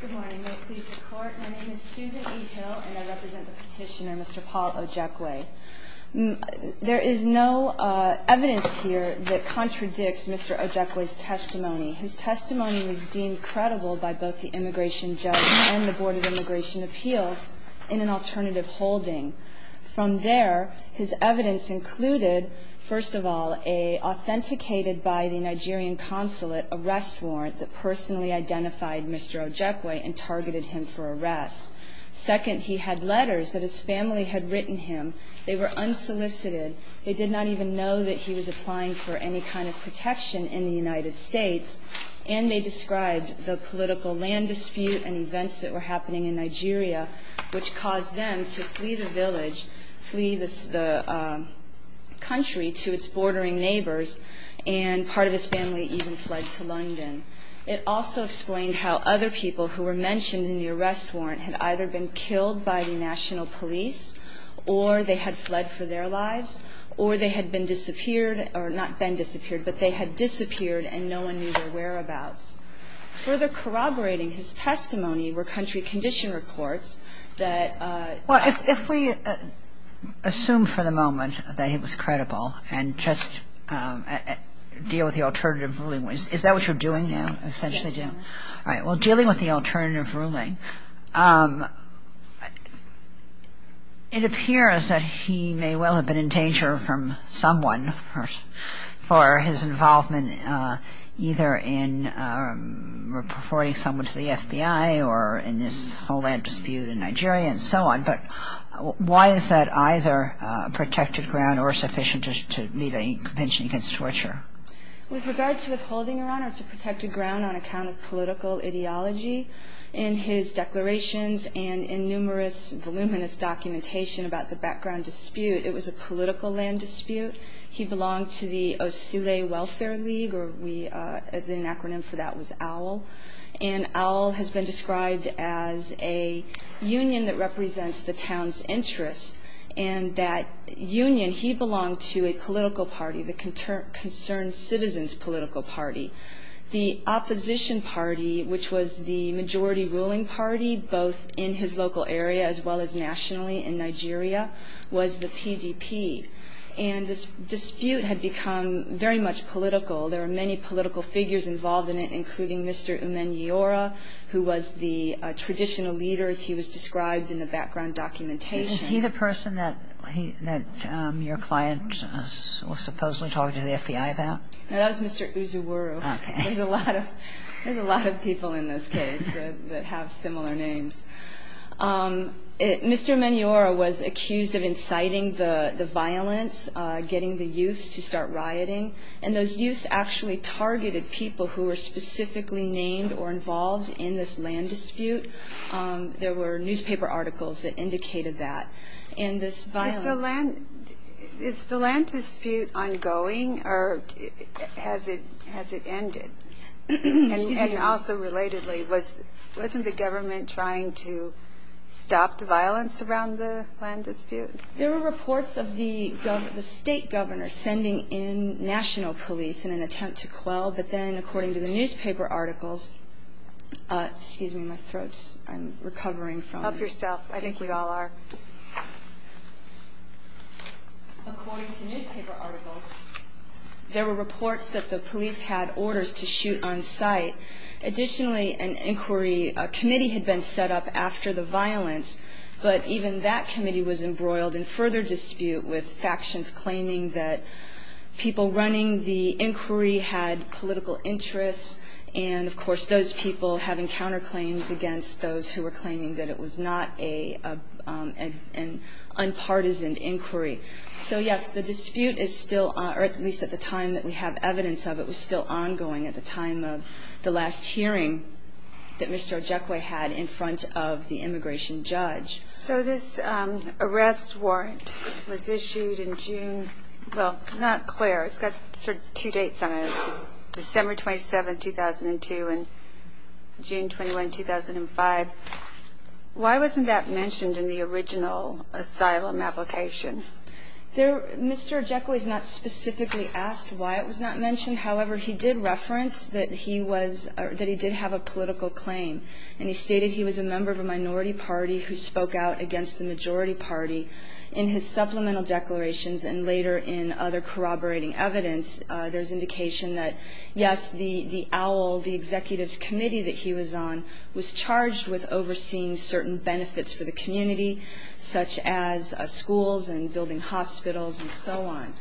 Good morning. May it please the Court, my name is Susan E. Hill and I represent the petitioner, Mr. Paul Ojekwe. There is no evidence here that contradicts Mr. Ojekwe's testimony. His testimony was deemed credible by both the immigration judge and the Board of Immigration Appeals in an alternative holding. From there, his evidence included, first of all, an authenticated by the Nigerian consulate arrest warrant that personally identified Mr. Ojekwe and targeted him for arrest. Second, he had letters that his family had written him. They were unsolicited. They did not even know that he was applying for any kind of protection in the United States. And they described the political land dispute and events that were happening in Nigeria, which caused them to flee the village, flee the country to its bordering neighbors. And part of his family even fled to London. It also explained how other people who were mentioned in the arrest warrant had either been killed by the national police, or they had fled for their lives, or they had been disappeared, or not been disappeared, but they had disappeared and no one knew their whereabouts. Further corroborating his testimony were country condition reports that ---- Kagan. Well, if we assume for the moment that he was credible and just deal with the alternative ruling, is that what you're doing now, essentially, Jim? Well, dealing with the alternative ruling, it appears that he may well have been in danger from someone for his involvement either in reporting someone to the FBI or in this whole land dispute in Nigeria and so on. But why is that either protected ground or sufficient to meet a compensation against torture? With regards to withholding, Your Honor, it's a protected ground on account of political ideology. In his declarations and in numerous voluminous documentation about the background dispute, it was a political land dispute. He belonged to the Osule Welfare League, or the acronym for that was OWL. And OWL has been described as a union that represents the town's interests. And that union, he belonged to a political party, the Concerned Citizens Political Party. The opposition party, which was the majority ruling party, both in his local area as well as nationally in Nigeria, was the PDP. And this dispute had become very much political. There were many political figures involved in it, including Mr. Umenyora, who was the traditional leader, as he was described in the background documentation. Was he the person that your client was supposedly talking to the FBI about? No, that was Mr. Uzuwuru. Okay. There's a lot of people in this case that have similar names. Mr. Umenyora was accused of inciting the violence, getting the youths to start rioting. And those youths actually targeted people who were specifically named or involved in this land dispute. There were newspaper articles that indicated that. And this violence – Is the land dispute ongoing or has it ended? Excuse me. And also relatedly, wasn't the government trying to stop the violence around the land dispute? There were reports of the state governor sending in national police in an attempt to quell. But then, according to the newspaper articles – excuse me, my throat's – I'm recovering from – Help yourself. I think we all are. According to newspaper articles, there were reports that the police had orders to shoot on sight. Additionally, an inquiry committee had been set up after the violence. But even that committee was embroiled in further dispute with factions claiming that people running the inquiry had political interests. And, of course, those people having counterclaims against those who were claiming that it was not an unpartisan inquiry. So, yes, the dispute is still – or at least at the time that we have evidence of it – was still ongoing at the time of the last hearing that Mr. Ojekwe had in front of the immigration judge. So this arrest warrant was issued in June – well, not – Claire, it's got sort of two dates on it. December 27, 2002 and June 21, 2005. Why wasn't that mentioned in the original asylum application? There – Mr. Ojekwe's not specifically asked why it was not mentioned. However, he did reference that he was – that he did have a political claim. And he stated he was a member of a minority party who spoke out against the majority party in his supplemental declarations and later in other corroborating evidence. There's indication that, yes, the OWL, the executive's committee that he was on, was charged with overseeing certain benefits for the community, such as schools and building hospitals and so on.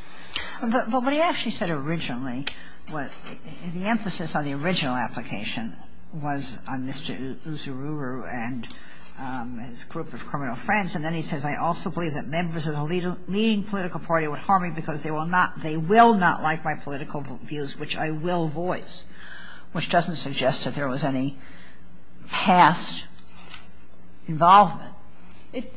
But what he actually said originally, the emphasis on the original application, was on Mr. Uzuru and his group of criminal friends. And then he says, I also believe that members of the leading political party would harm me because they will not like my political views, which I will voice, which doesn't suggest that there was any past involvement.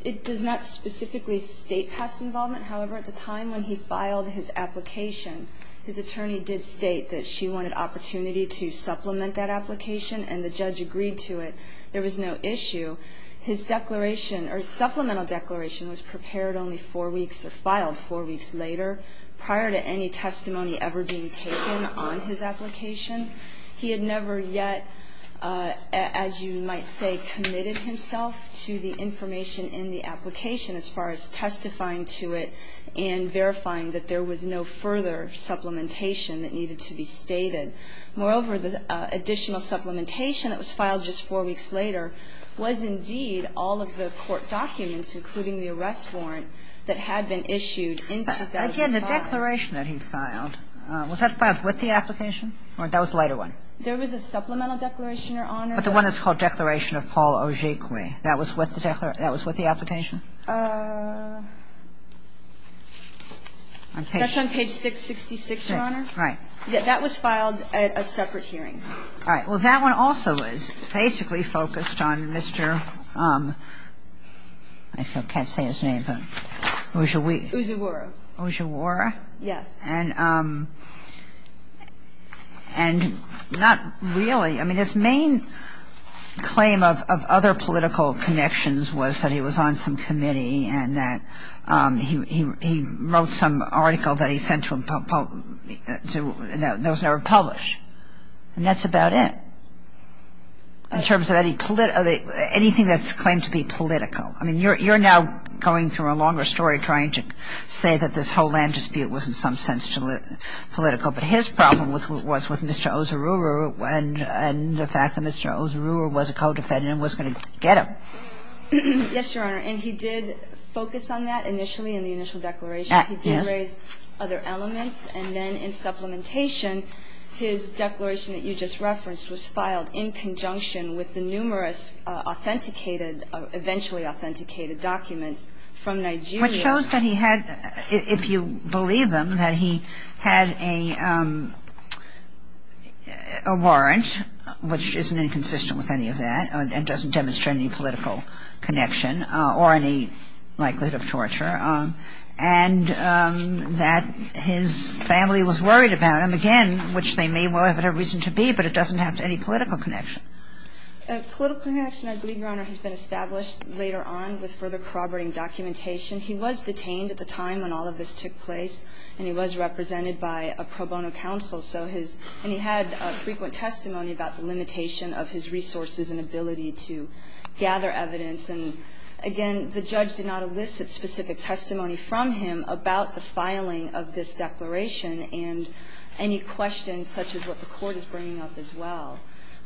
It does not specifically state past involvement. However, at the time when he filed his application, his attorney did state that she wanted opportunity to supplement that application, and the judge agreed to it. There was no issue. His declaration, or supplemental declaration, was prepared only four weeks, or filed four weeks later, prior to any testimony ever being taken on his application. He had never yet, as you might say, committed himself to the information in the application as far as testifying to it and verifying that there was no further supplementation that needed to be stated. Moreover, the additional supplementation that was filed just four weeks later was indeed all of the court documents, including the arrest warrant, that had been issued in 2005. But again, the declaration that he filed, was that filed with the application? Or that was a later one? There was a supplemental declaration, Your Honor. But the one that's called Declaration of Paul Ogigwe, that was with the application? That's on page 666, Your Honor. That was filed at a separate hearing. All right. Well, that one also was basically focused on Mr. I can't say his name, but Ogigwe? Ogigwe. Ogigwe? Yes. And not really. I mean, his main claim of other political connections was that he was on some committee and that he wrote some article that he sent to him that was never published. And that's about it in terms of anything that's claimed to be political. I mean, you're now going through a longer story trying to say that this whole land dispute was in some sense political. But his problem was with Mr. Ozururo and the fact that Mr. Ozururo was a co-defendant and was going to get him. Yes, Your Honor. And he did focus on that initially in the initial declaration. He did raise other elements. And then in supplementation, his declaration that you just referenced was filed in conjunction with the numerous authenticated or eventually authenticated documents from Nigeria. Which shows that he had, if you believe him, that he had a warrant, which isn't inconsistent with any of that and doesn't demonstrate any political connection or any likelihood of torture. And that his family was worried about him, again, which they may well have had a reason to be, but it doesn't have any political connection. Political connection, I believe, Your Honor, has been established later on with further corroborating documentation. He was detained at the time when all of this took place. And he was represented by a pro bono counsel. So his ‑‑ and he had frequent testimony about the limitation of his resources and ability to gather evidence. And, again, the judge did not elicit specific testimony from him about the filing of this declaration and any questions such as what the Court is bringing up as well.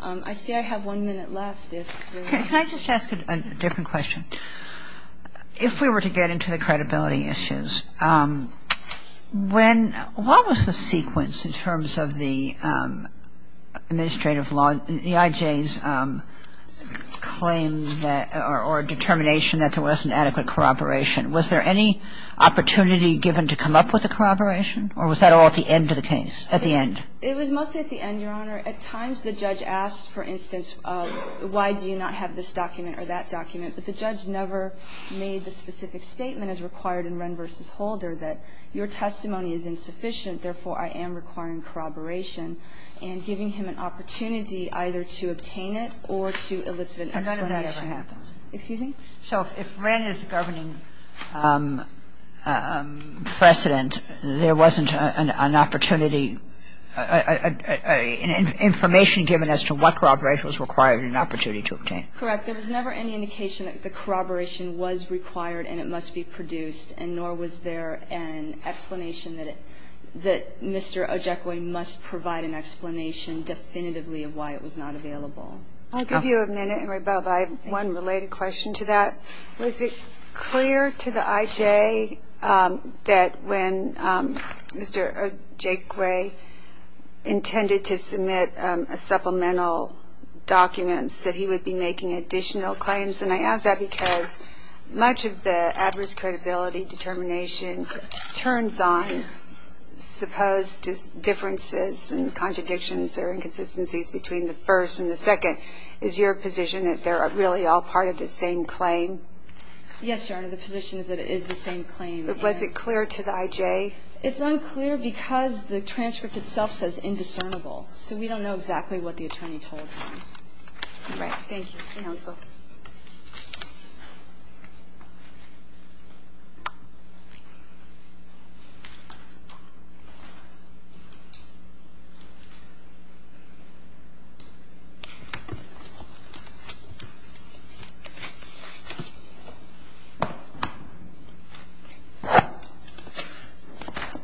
I see I have one minute left. If there is ‑‑ Can I just ask a different question? If we were to get into the credibility issues, when ‑‑ what was the sequence in terms of the administrative law, the IJ's claim that ‑‑ or determination that there wasn't adequate corroboration, was there any opportunity given to come up with a corroboration? Or was that all at the end of the case, at the end? It was mostly at the end, Your Honor. At times the judge asked, for instance, why do you not have this document or that document? But the judge never made the specific statement as required in Wren v. Holder that your testimony is insufficient, therefore, I am requiring corroboration and giving him an opportunity either to obtain it or to elicit an explanation. And none of that ever happened. Excuse me? So if Wren is the governing precedent, there wasn't an opportunity, information given as to what corroboration was required and an opportunity to obtain it. Correct. There was never any indication that the corroboration was required and it must be produced and nor was there an explanation that Mr. Ojekwe must provide an explanation definitively of why it was not available. I'll give you a minute, Emery Bove. I have one related question to that. Was it clear to the IJ that when Mr. Ojekwe intended to submit supplemental documents that he would be making additional claims? And I ask that because much of the adverse credibility determination turns on supposed differences and contradictions or inconsistencies between the first and the second. Is your position that they're really all part of the same claim? Yes, Your Honor. The position is that it is the same claim. Was it clear to the IJ? It's unclear because the transcript itself says indiscernible. So we don't know exactly what the attorney told him. All right. Thank you. Counsel.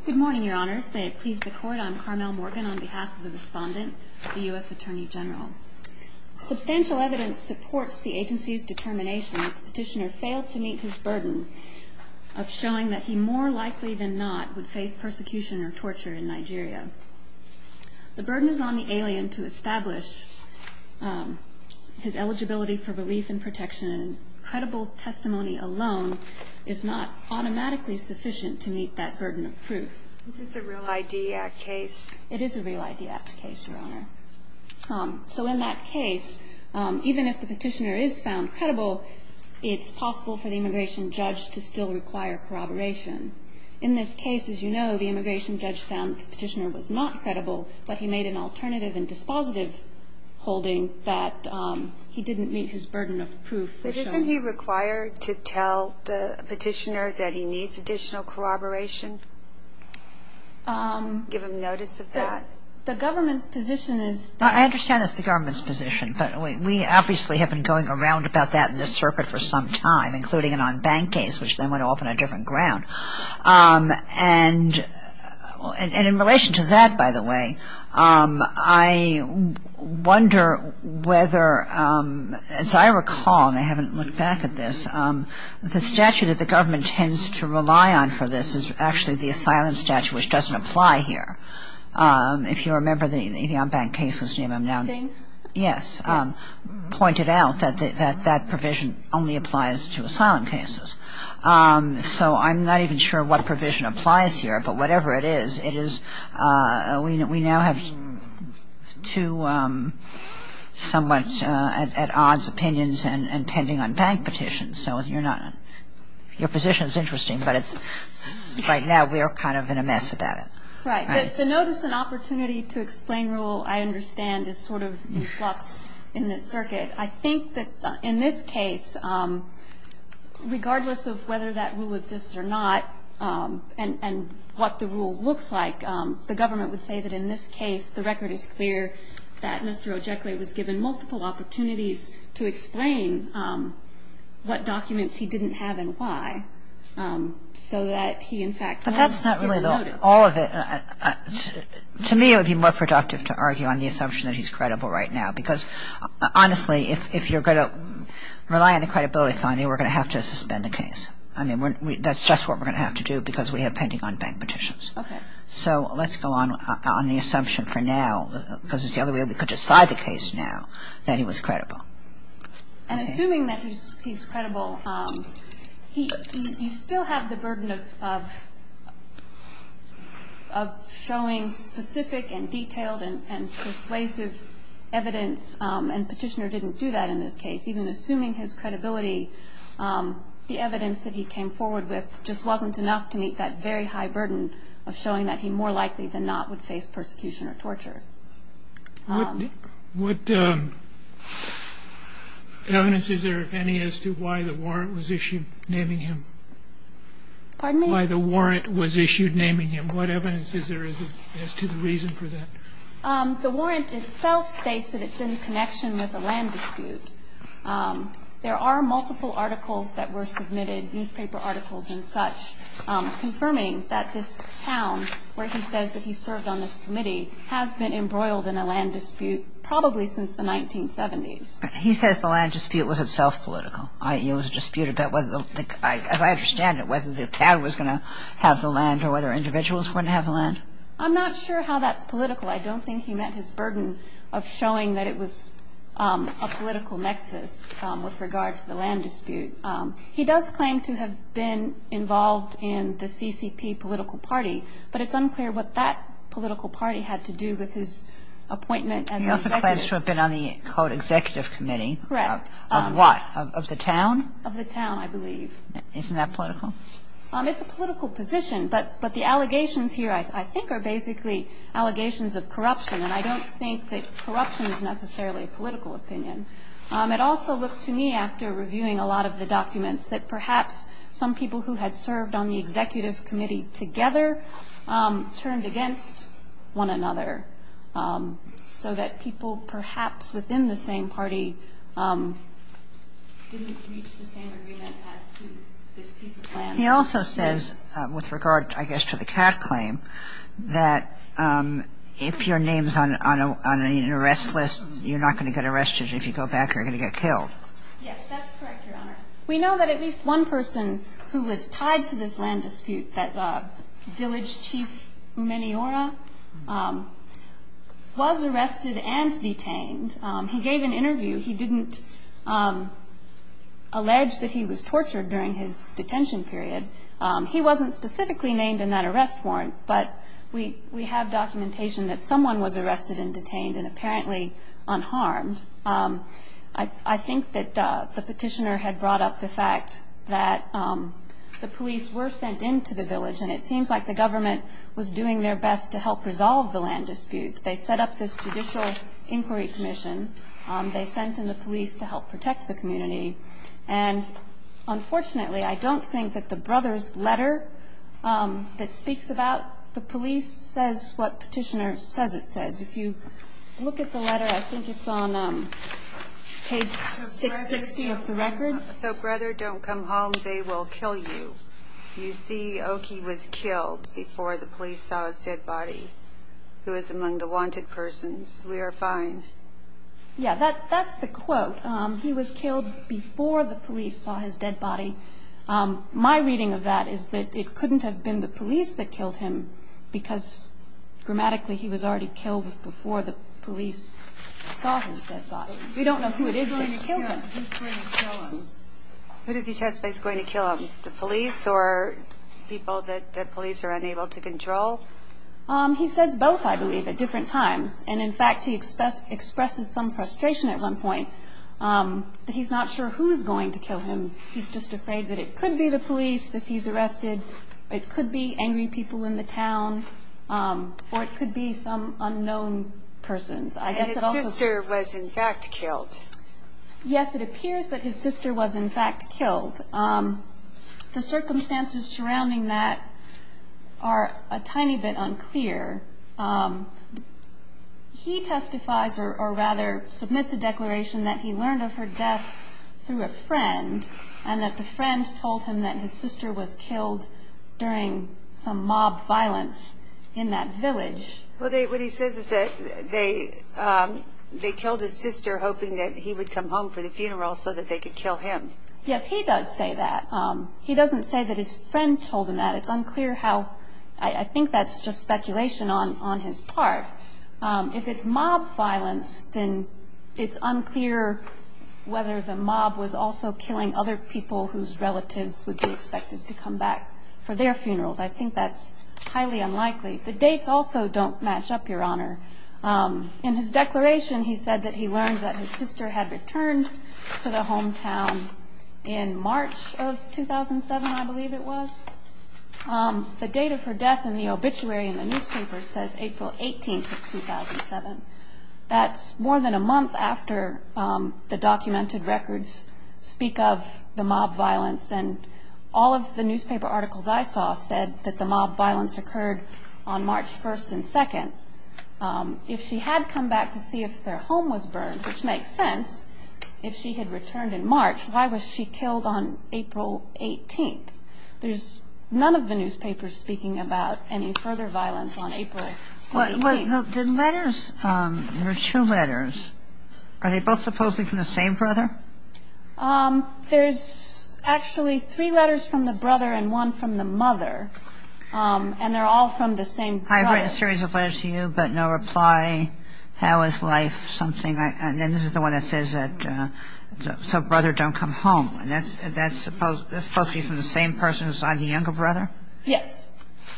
Good morning, Your Honors. May it please the Court, I'm Carmel Morgan on behalf of the respondent, the U.S. Attorney General. Substantial evidence supports the agency's determination that the petitioner failed to meet his burden of showing that he more likely than not would face persecution or torture in Nigeria. The burden is on the alien to establish his eligibility for relief and protection. Credible testimony alone is not automatically sufficient to meet that burden of proof. Is this a Real ID Act case? It is a Real ID Act case, Your Honor. So in that case, even if the petitioner is found credible, it's possible for the immigration judge to still require corroboration. In this case, as you know, the immigration judge found the petitioner was not credible, but he made an alternative and dispositive holding that he didn't meet his burden of proof. But isn't he required to tell the petitioner that he needs additional corroboration, give him notice of that? The government's position is that. I understand it's the government's position, but we obviously have been going around about that in this circuit for some time, including an on-bank case, which then went off on a different ground. And in relation to that, by the way, I wonder whether, as I recall, and I haven't looked back at this, the statute that the government tends to rely on for this is actually the asylum statute, which doesn't apply here. If you remember the on-bank cases name, I'm now. Yes. Pointed out that that provision only applies to asylum cases. So I'm not even sure what provision applies here, but whatever it is, it is we now have two somewhat at odds opinions and pending on-bank petitions. So you're not. Your position is interesting, but it's right now we're kind of in a mess about it. Right. The notice and opportunity to explain rule, I understand, is sort of in flux in this circuit. I think that in this case, regardless of whether that rule exists or not, and what the rule looks like, the government would say that in this case the record is clear that Mr. Ojekwe was given multiple opportunities to explain what documents he didn't have and why so that he, in fact, was given notice. But that's not really all of it. To me, it would be more productive to argue on the assumption that he's credible right now because, honestly, if you're going to rely on the credibility finding, we're going to have to suspend the case. I mean, that's just what we're going to have to do because we have pending on-bank petitions. Okay. So let's go on the assumption for now because it's the only way we could decide the case now that he was credible. And assuming that he's credible, you still have the burden of showing specific and detailed and persuasive evidence, and Petitioner didn't do that in this case. Even assuming his credibility, the evidence that he came forward with just wasn't enough to meet that very high burden of showing that he more likely than not would face persecution or torture. What evidence is there, if any, as to why the warrant was issued naming him? Pardon me? Why the warrant was issued naming him. What evidence is there as to the reason for that? The warrant itself states that it's in connection with a land dispute. There are multiple articles that were submitted, newspaper articles and such, confirming that this town where he says that he served on this committee has been embroiled in a land dispute probably since the 1970s. He says the land dispute was itself political. It was a dispute about whether, as I understand it, whether the town was going to have the land or whether individuals were going to have the land. I'm not sure how that's political. I don't think he meant his burden of showing that it was a political nexus with regard to the land dispute. He does claim to have been involved in the CCP political party, but it's unclear what that political party had to do with his appointment as the executive. He also claims to have been on the, quote, executive committee. Correct. Of what? Of the town? Of the town, I believe. Isn't that political? It's a political position. But the allegations here I think are basically allegations of corruption, and I don't think that corruption is necessarily a political opinion. It also looked to me after reviewing a lot of the documents that perhaps some people who had served on the executive committee together turned against one another so that people perhaps within the same party didn't reach the same agreement as to this piece of land. He also says, with regard, I guess, to the cat claim, that if your name is on an arrest list, you're not going to get arrested if you go back or you're going to get killed. Yes, that's correct, Your Honor. We know that at least one person who was tied to this land dispute, that village chief Meniora, was arrested and detained. He gave an interview. He didn't allege that he was tortured during his detention period. He wasn't specifically named in that arrest warrant, but we have documentation that someone was arrested and detained and apparently unharmed. I think that the petitioner had brought up the fact that the police were sent into the village, and it seems like the government was doing their best to help resolve the land dispute. They set up this judicial inquiry commission. They sent in the police to help protect the community. And, unfortunately, I don't think that the brother's letter that speaks about the police says what petitioner says it says. If you look at the letter, I think it's on page 660 of the record. So, brother, don't come home. They will kill you. You see, Oki was killed before the police saw his dead body, who is among the wanted persons. We are fine. Yeah, that's the quote. He was killed before the police saw his dead body. My reading of that is that it couldn't have been the police that killed him because, grammatically, he was already killed before the police saw his dead body. We don't know who it is that killed him. Who's going to kill him? Who does he testify is going to kill him, the police or people that police are unable to control? He says both, I believe, at different times. And, in fact, he expresses some frustration at one point that he's not sure who's going to kill him. He's just afraid that it could be the police if he's arrested. It could be angry people in the town, or it could be some unknown persons. And his sister was, in fact, killed. Yes, it appears that his sister was, in fact, killed. The circumstances surrounding that are a tiny bit unclear. He testifies or, rather, submits a declaration that he learned of her death through a friend and that the friend told him that his sister was killed during some mob violence in that village. Well, what he says is that they killed his sister, hoping that he would come home for the funeral so that they could kill him. Yes, he does say that. He doesn't say that his friend told him that. It's unclear how. I think that's just speculation on his part. If it's mob violence, then it's unclear whether the mob was also killing other people whose relatives would be expected to come back for their funerals. I think that's highly unlikely. The dates also don't match up, Your Honor. In his declaration, he said that he learned that his sister had returned to the hometown in March of 2007, I believe it was. The date of her death in the obituary in the newspaper says April 18th of 2007. That's more than a month after the documented records speak of the mob violence. And all of the newspaper articles I saw said that the mob violence occurred on March 1st and 2nd. If she had come back to see if their home was burned, which makes sense, if she had returned in March, why was she killed on April 18th? There's none of the newspapers speaking about any further violence on April 18th. The letters, there are two letters. Are they both supposedly from the same brother? There's actually three letters from the brother and one from the mother, and they're all from the same brother. I've written a series of letters to you, but no reply. How is life? Something like that. And this is the one that says, so brother, don't come home. And that's supposed to be from the same person who signed the younger brother? Yes.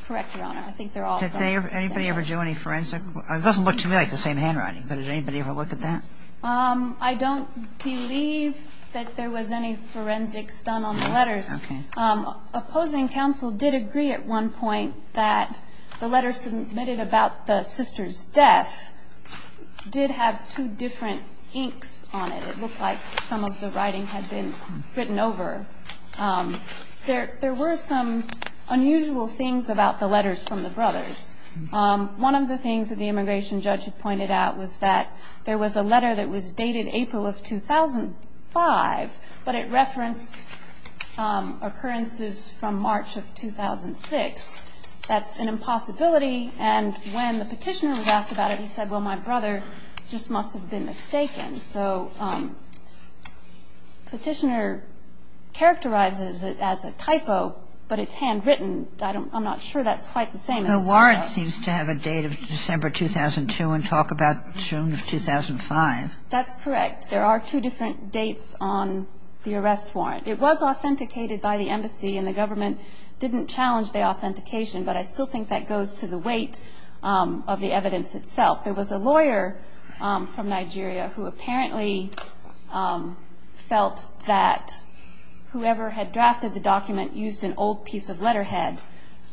Correct, Your Honor. I think they're all from the same brother. Did anybody ever do any forensic? It doesn't look to me like the same handwriting, but did anybody ever look at that? I don't believe that there was any forensics done on the letters. Okay. Opposing counsel did agree at one point that the letter submitted about the sister's death did have two different inks on it. It looked like some of the writing had been written over. There were some unusual things about the letters from the brothers. One of the things that the immigration judge had pointed out was that there was a letter that was dated April of 2005, but it referenced occurrences from March of 2006. That's an impossibility. And when the Petitioner was asked about it, he said, well, my brother just must have been mistaken. So Petitioner characterizes it as a typo, but it's handwritten. I'm not sure that's quite the same as a typo. The warrant seems to have a date of December 2002 and talk about June of 2005. That's correct. There are two different dates on the arrest warrant. It was authenticated by the embassy, and the government didn't challenge the authentication, but I still think that goes to the weight of the evidence itself. There was a lawyer from Nigeria who apparently felt that whoever had drafted the document used an old piece of letterhead,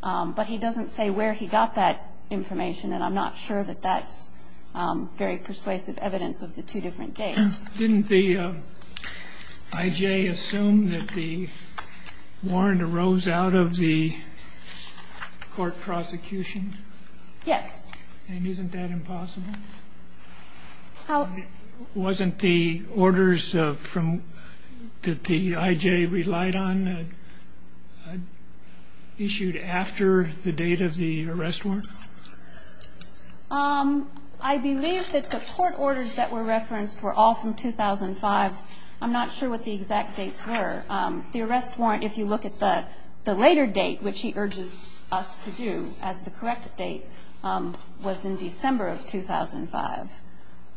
but he doesn't say where he got that information, and I'm not sure that that's very persuasive evidence of the two different dates. Didn't the I.J. assume that the warrant arose out of the court prosecution? Yes. And isn't that impossible? Wasn't the orders that the I.J. relied on issued after the date of the arrest warrant? I believe that the court orders that were referenced were all from 2005. I'm not sure what the exact dates were. The arrest warrant, if you look at the later date, which he urges us to do as the correct date, was in December of 2005.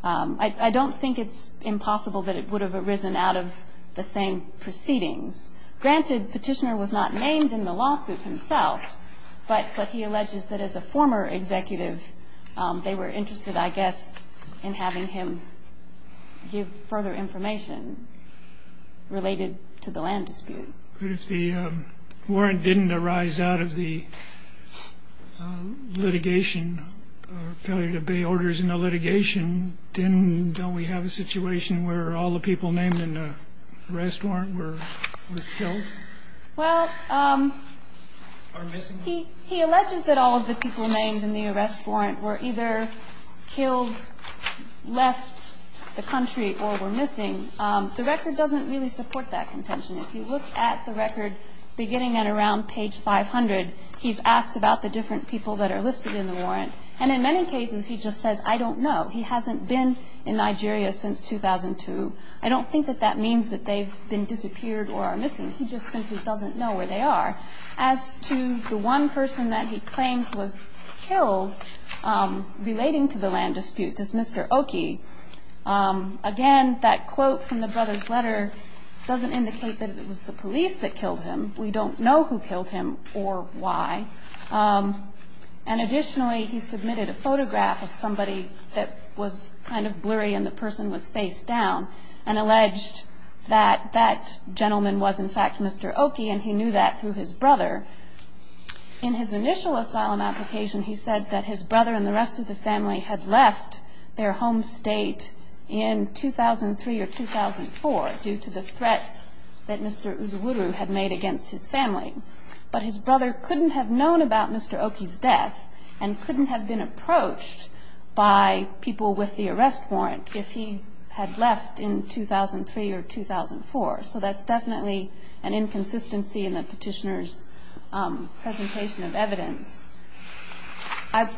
I don't think it's impossible that it would have arisen out of the same proceedings. Granted, Petitioner was not named in the lawsuit himself, but he alleges that as a former executive they were interested, I guess, in having him give further information related to the land dispute. But if the warrant didn't arise out of the litigation, failure to obey orders in the litigation, then don't we have a situation where all the people named in the arrest warrant were killed? Well, he alleges that all of the people named in the arrest warrant were either killed, left the country, or were missing. The record doesn't really support that contention. If you look at the record beginning at around page 500, he's asked about the different people that are listed in the warrant. And in many cases he just says, I don't know. He hasn't been in Nigeria since 2002. I don't think that that means that they've been disappeared or are missing. He just simply doesn't know where they are. As to the one person that he claims was killed relating to the land dispute, this Mr. Oki, again, that quote from the brother's letter doesn't indicate that it was the police that killed him. We don't know who killed him or why. And additionally, he submitted a photograph of somebody that was kind of blurry and the person was face down and alleged that that gentleman was, in fact, Mr. Oki. And he knew that through his brother. In his initial asylum application, he said that his brother and the rest of the family had left their home state in 2003 or 2004 due to the threats that Mr. Uzuru had made against his family. But his brother couldn't have known about Mr. Oki's death and couldn't have been approached by people with the arrest warrant if he had left in 2003 or 2004. So that's definitely an inconsistency in the petitioner's presentation of evidence. I've...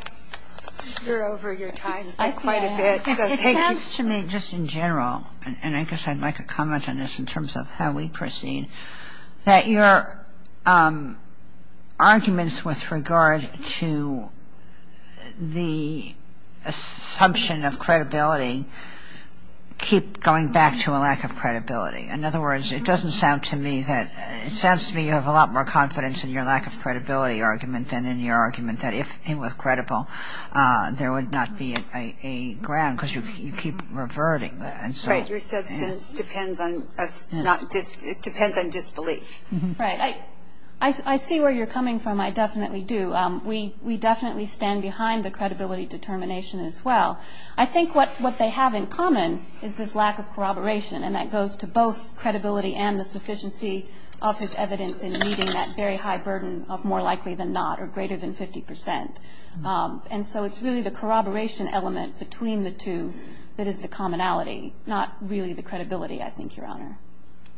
You're over your time quite a bit. I see that. So thank you. To me, just in general, and I guess I'd like a comment on this in terms of how we proceed, that your arguments with regard to the assumption of credibility keep going back to a lack of credibility. In other words, it doesn't sound to me that... It sounds to me you have a lot more confidence in your lack of credibility argument than in your argument that if it were credible, there would not be a ground because you keep reverting that. Right. Your substance depends on disbelief. Right. I see where you're coming from. I definitely do. We definitely stand behind the credibility determination as well. I think what they have in common is this lack of corroboration, and that goes to both credibility and the sufficiency of his evidence in meeting that very high burden of more likely than not or greater than 50 percent. And so it's really the corroboration element between the two that is the commonality, not really the credibility, I think, Your Honor.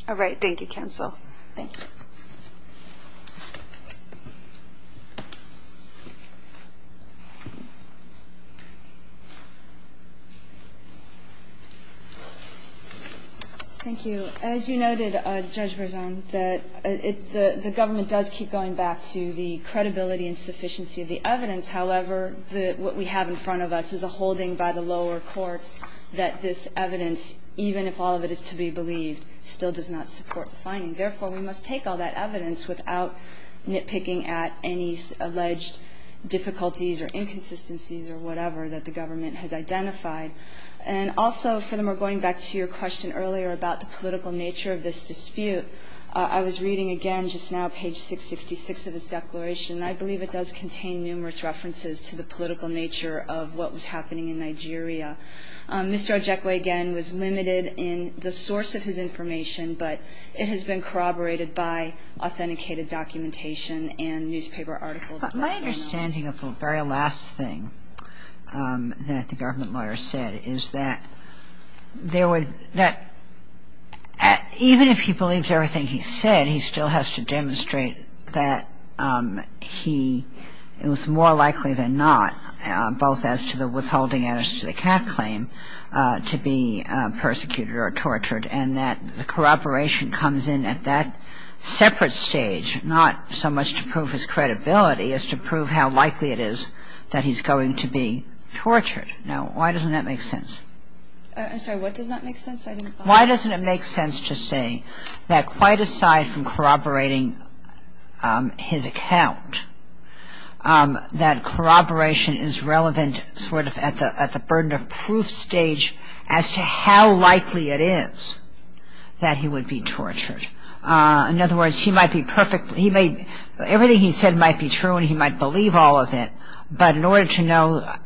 All right. Thank you, counsel. Thank you. Thank you. As you noted, Judge Berzon, that the government does keep going back to the credibility and sufficiency of the evidence. However, what we have in front of us is a holding by the lower courts that this evidence, even if all of it is to be believed, still does not support the finding. Therefore, we must take all that evidence without nitpicking at any alleged difficulties or inconsistencies or whatever that the government has identified. And also, for the more going back to your question earlier about the political nature of this dispute, I was reading again just now page 666 of his declaration. I believe it does contain numerous references to the political nature of what was happening in Nigeria. Mr. Ojekwe, again, was limited in the source of his information, but it has been corroborated by authenticated documentation and newspaper articles. My understanding of the very last thing that the government lawyer said is that there would – it was more likely than not, both as to the withholding and as to the CAF claim, to be persecuted or tortured, and that the corroboration comes in at that separate stage, not so much to prove his credibility as to prove how likely it is that he's going to be tortured. Now, why doesn't that make sense? I'm sorry. What does not make sense? Why doesn't it make sense to say that quite aside from corroborating his account, that corroboration is relevant sort of at the burden of proof stage as to how likely it is that he would be tortured? In other words, he might be perfectly – everything he said might be true and he might believe all of it, but in order to know –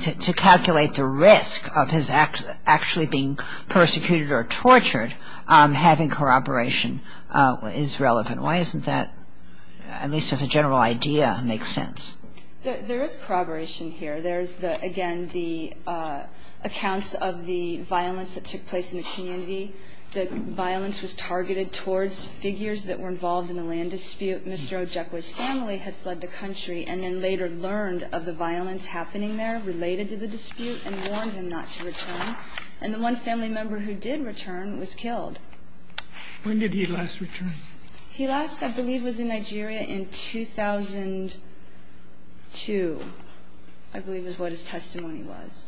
to calculate the risk of his actually being persecuted or tortured, having corroboration is relevant. Why isn't that, at least as a general idea, make sense? There is corroboration here. There's, again, the accounts of the violence that took place in the community. The violence was targeted towards figures that were involved in the land dispute. Mr. Ojekwa's family had fled the country and then later learned of the violence happening there related to the dispute and warned him not to return. And the one family member who did return was killed. When did he last return? He last, I believe, was in Nigeria in 2002, I believe is what his testimony was.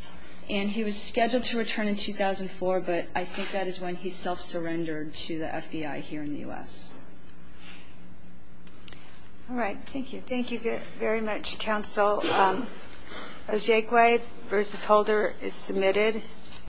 And he was scheduled to return in 2004, but I think that is when he self-surrendered to the FBI here in the U.S. All right, thank you. Thank you very much, counsel. Ojekwa v. Holder is submitted.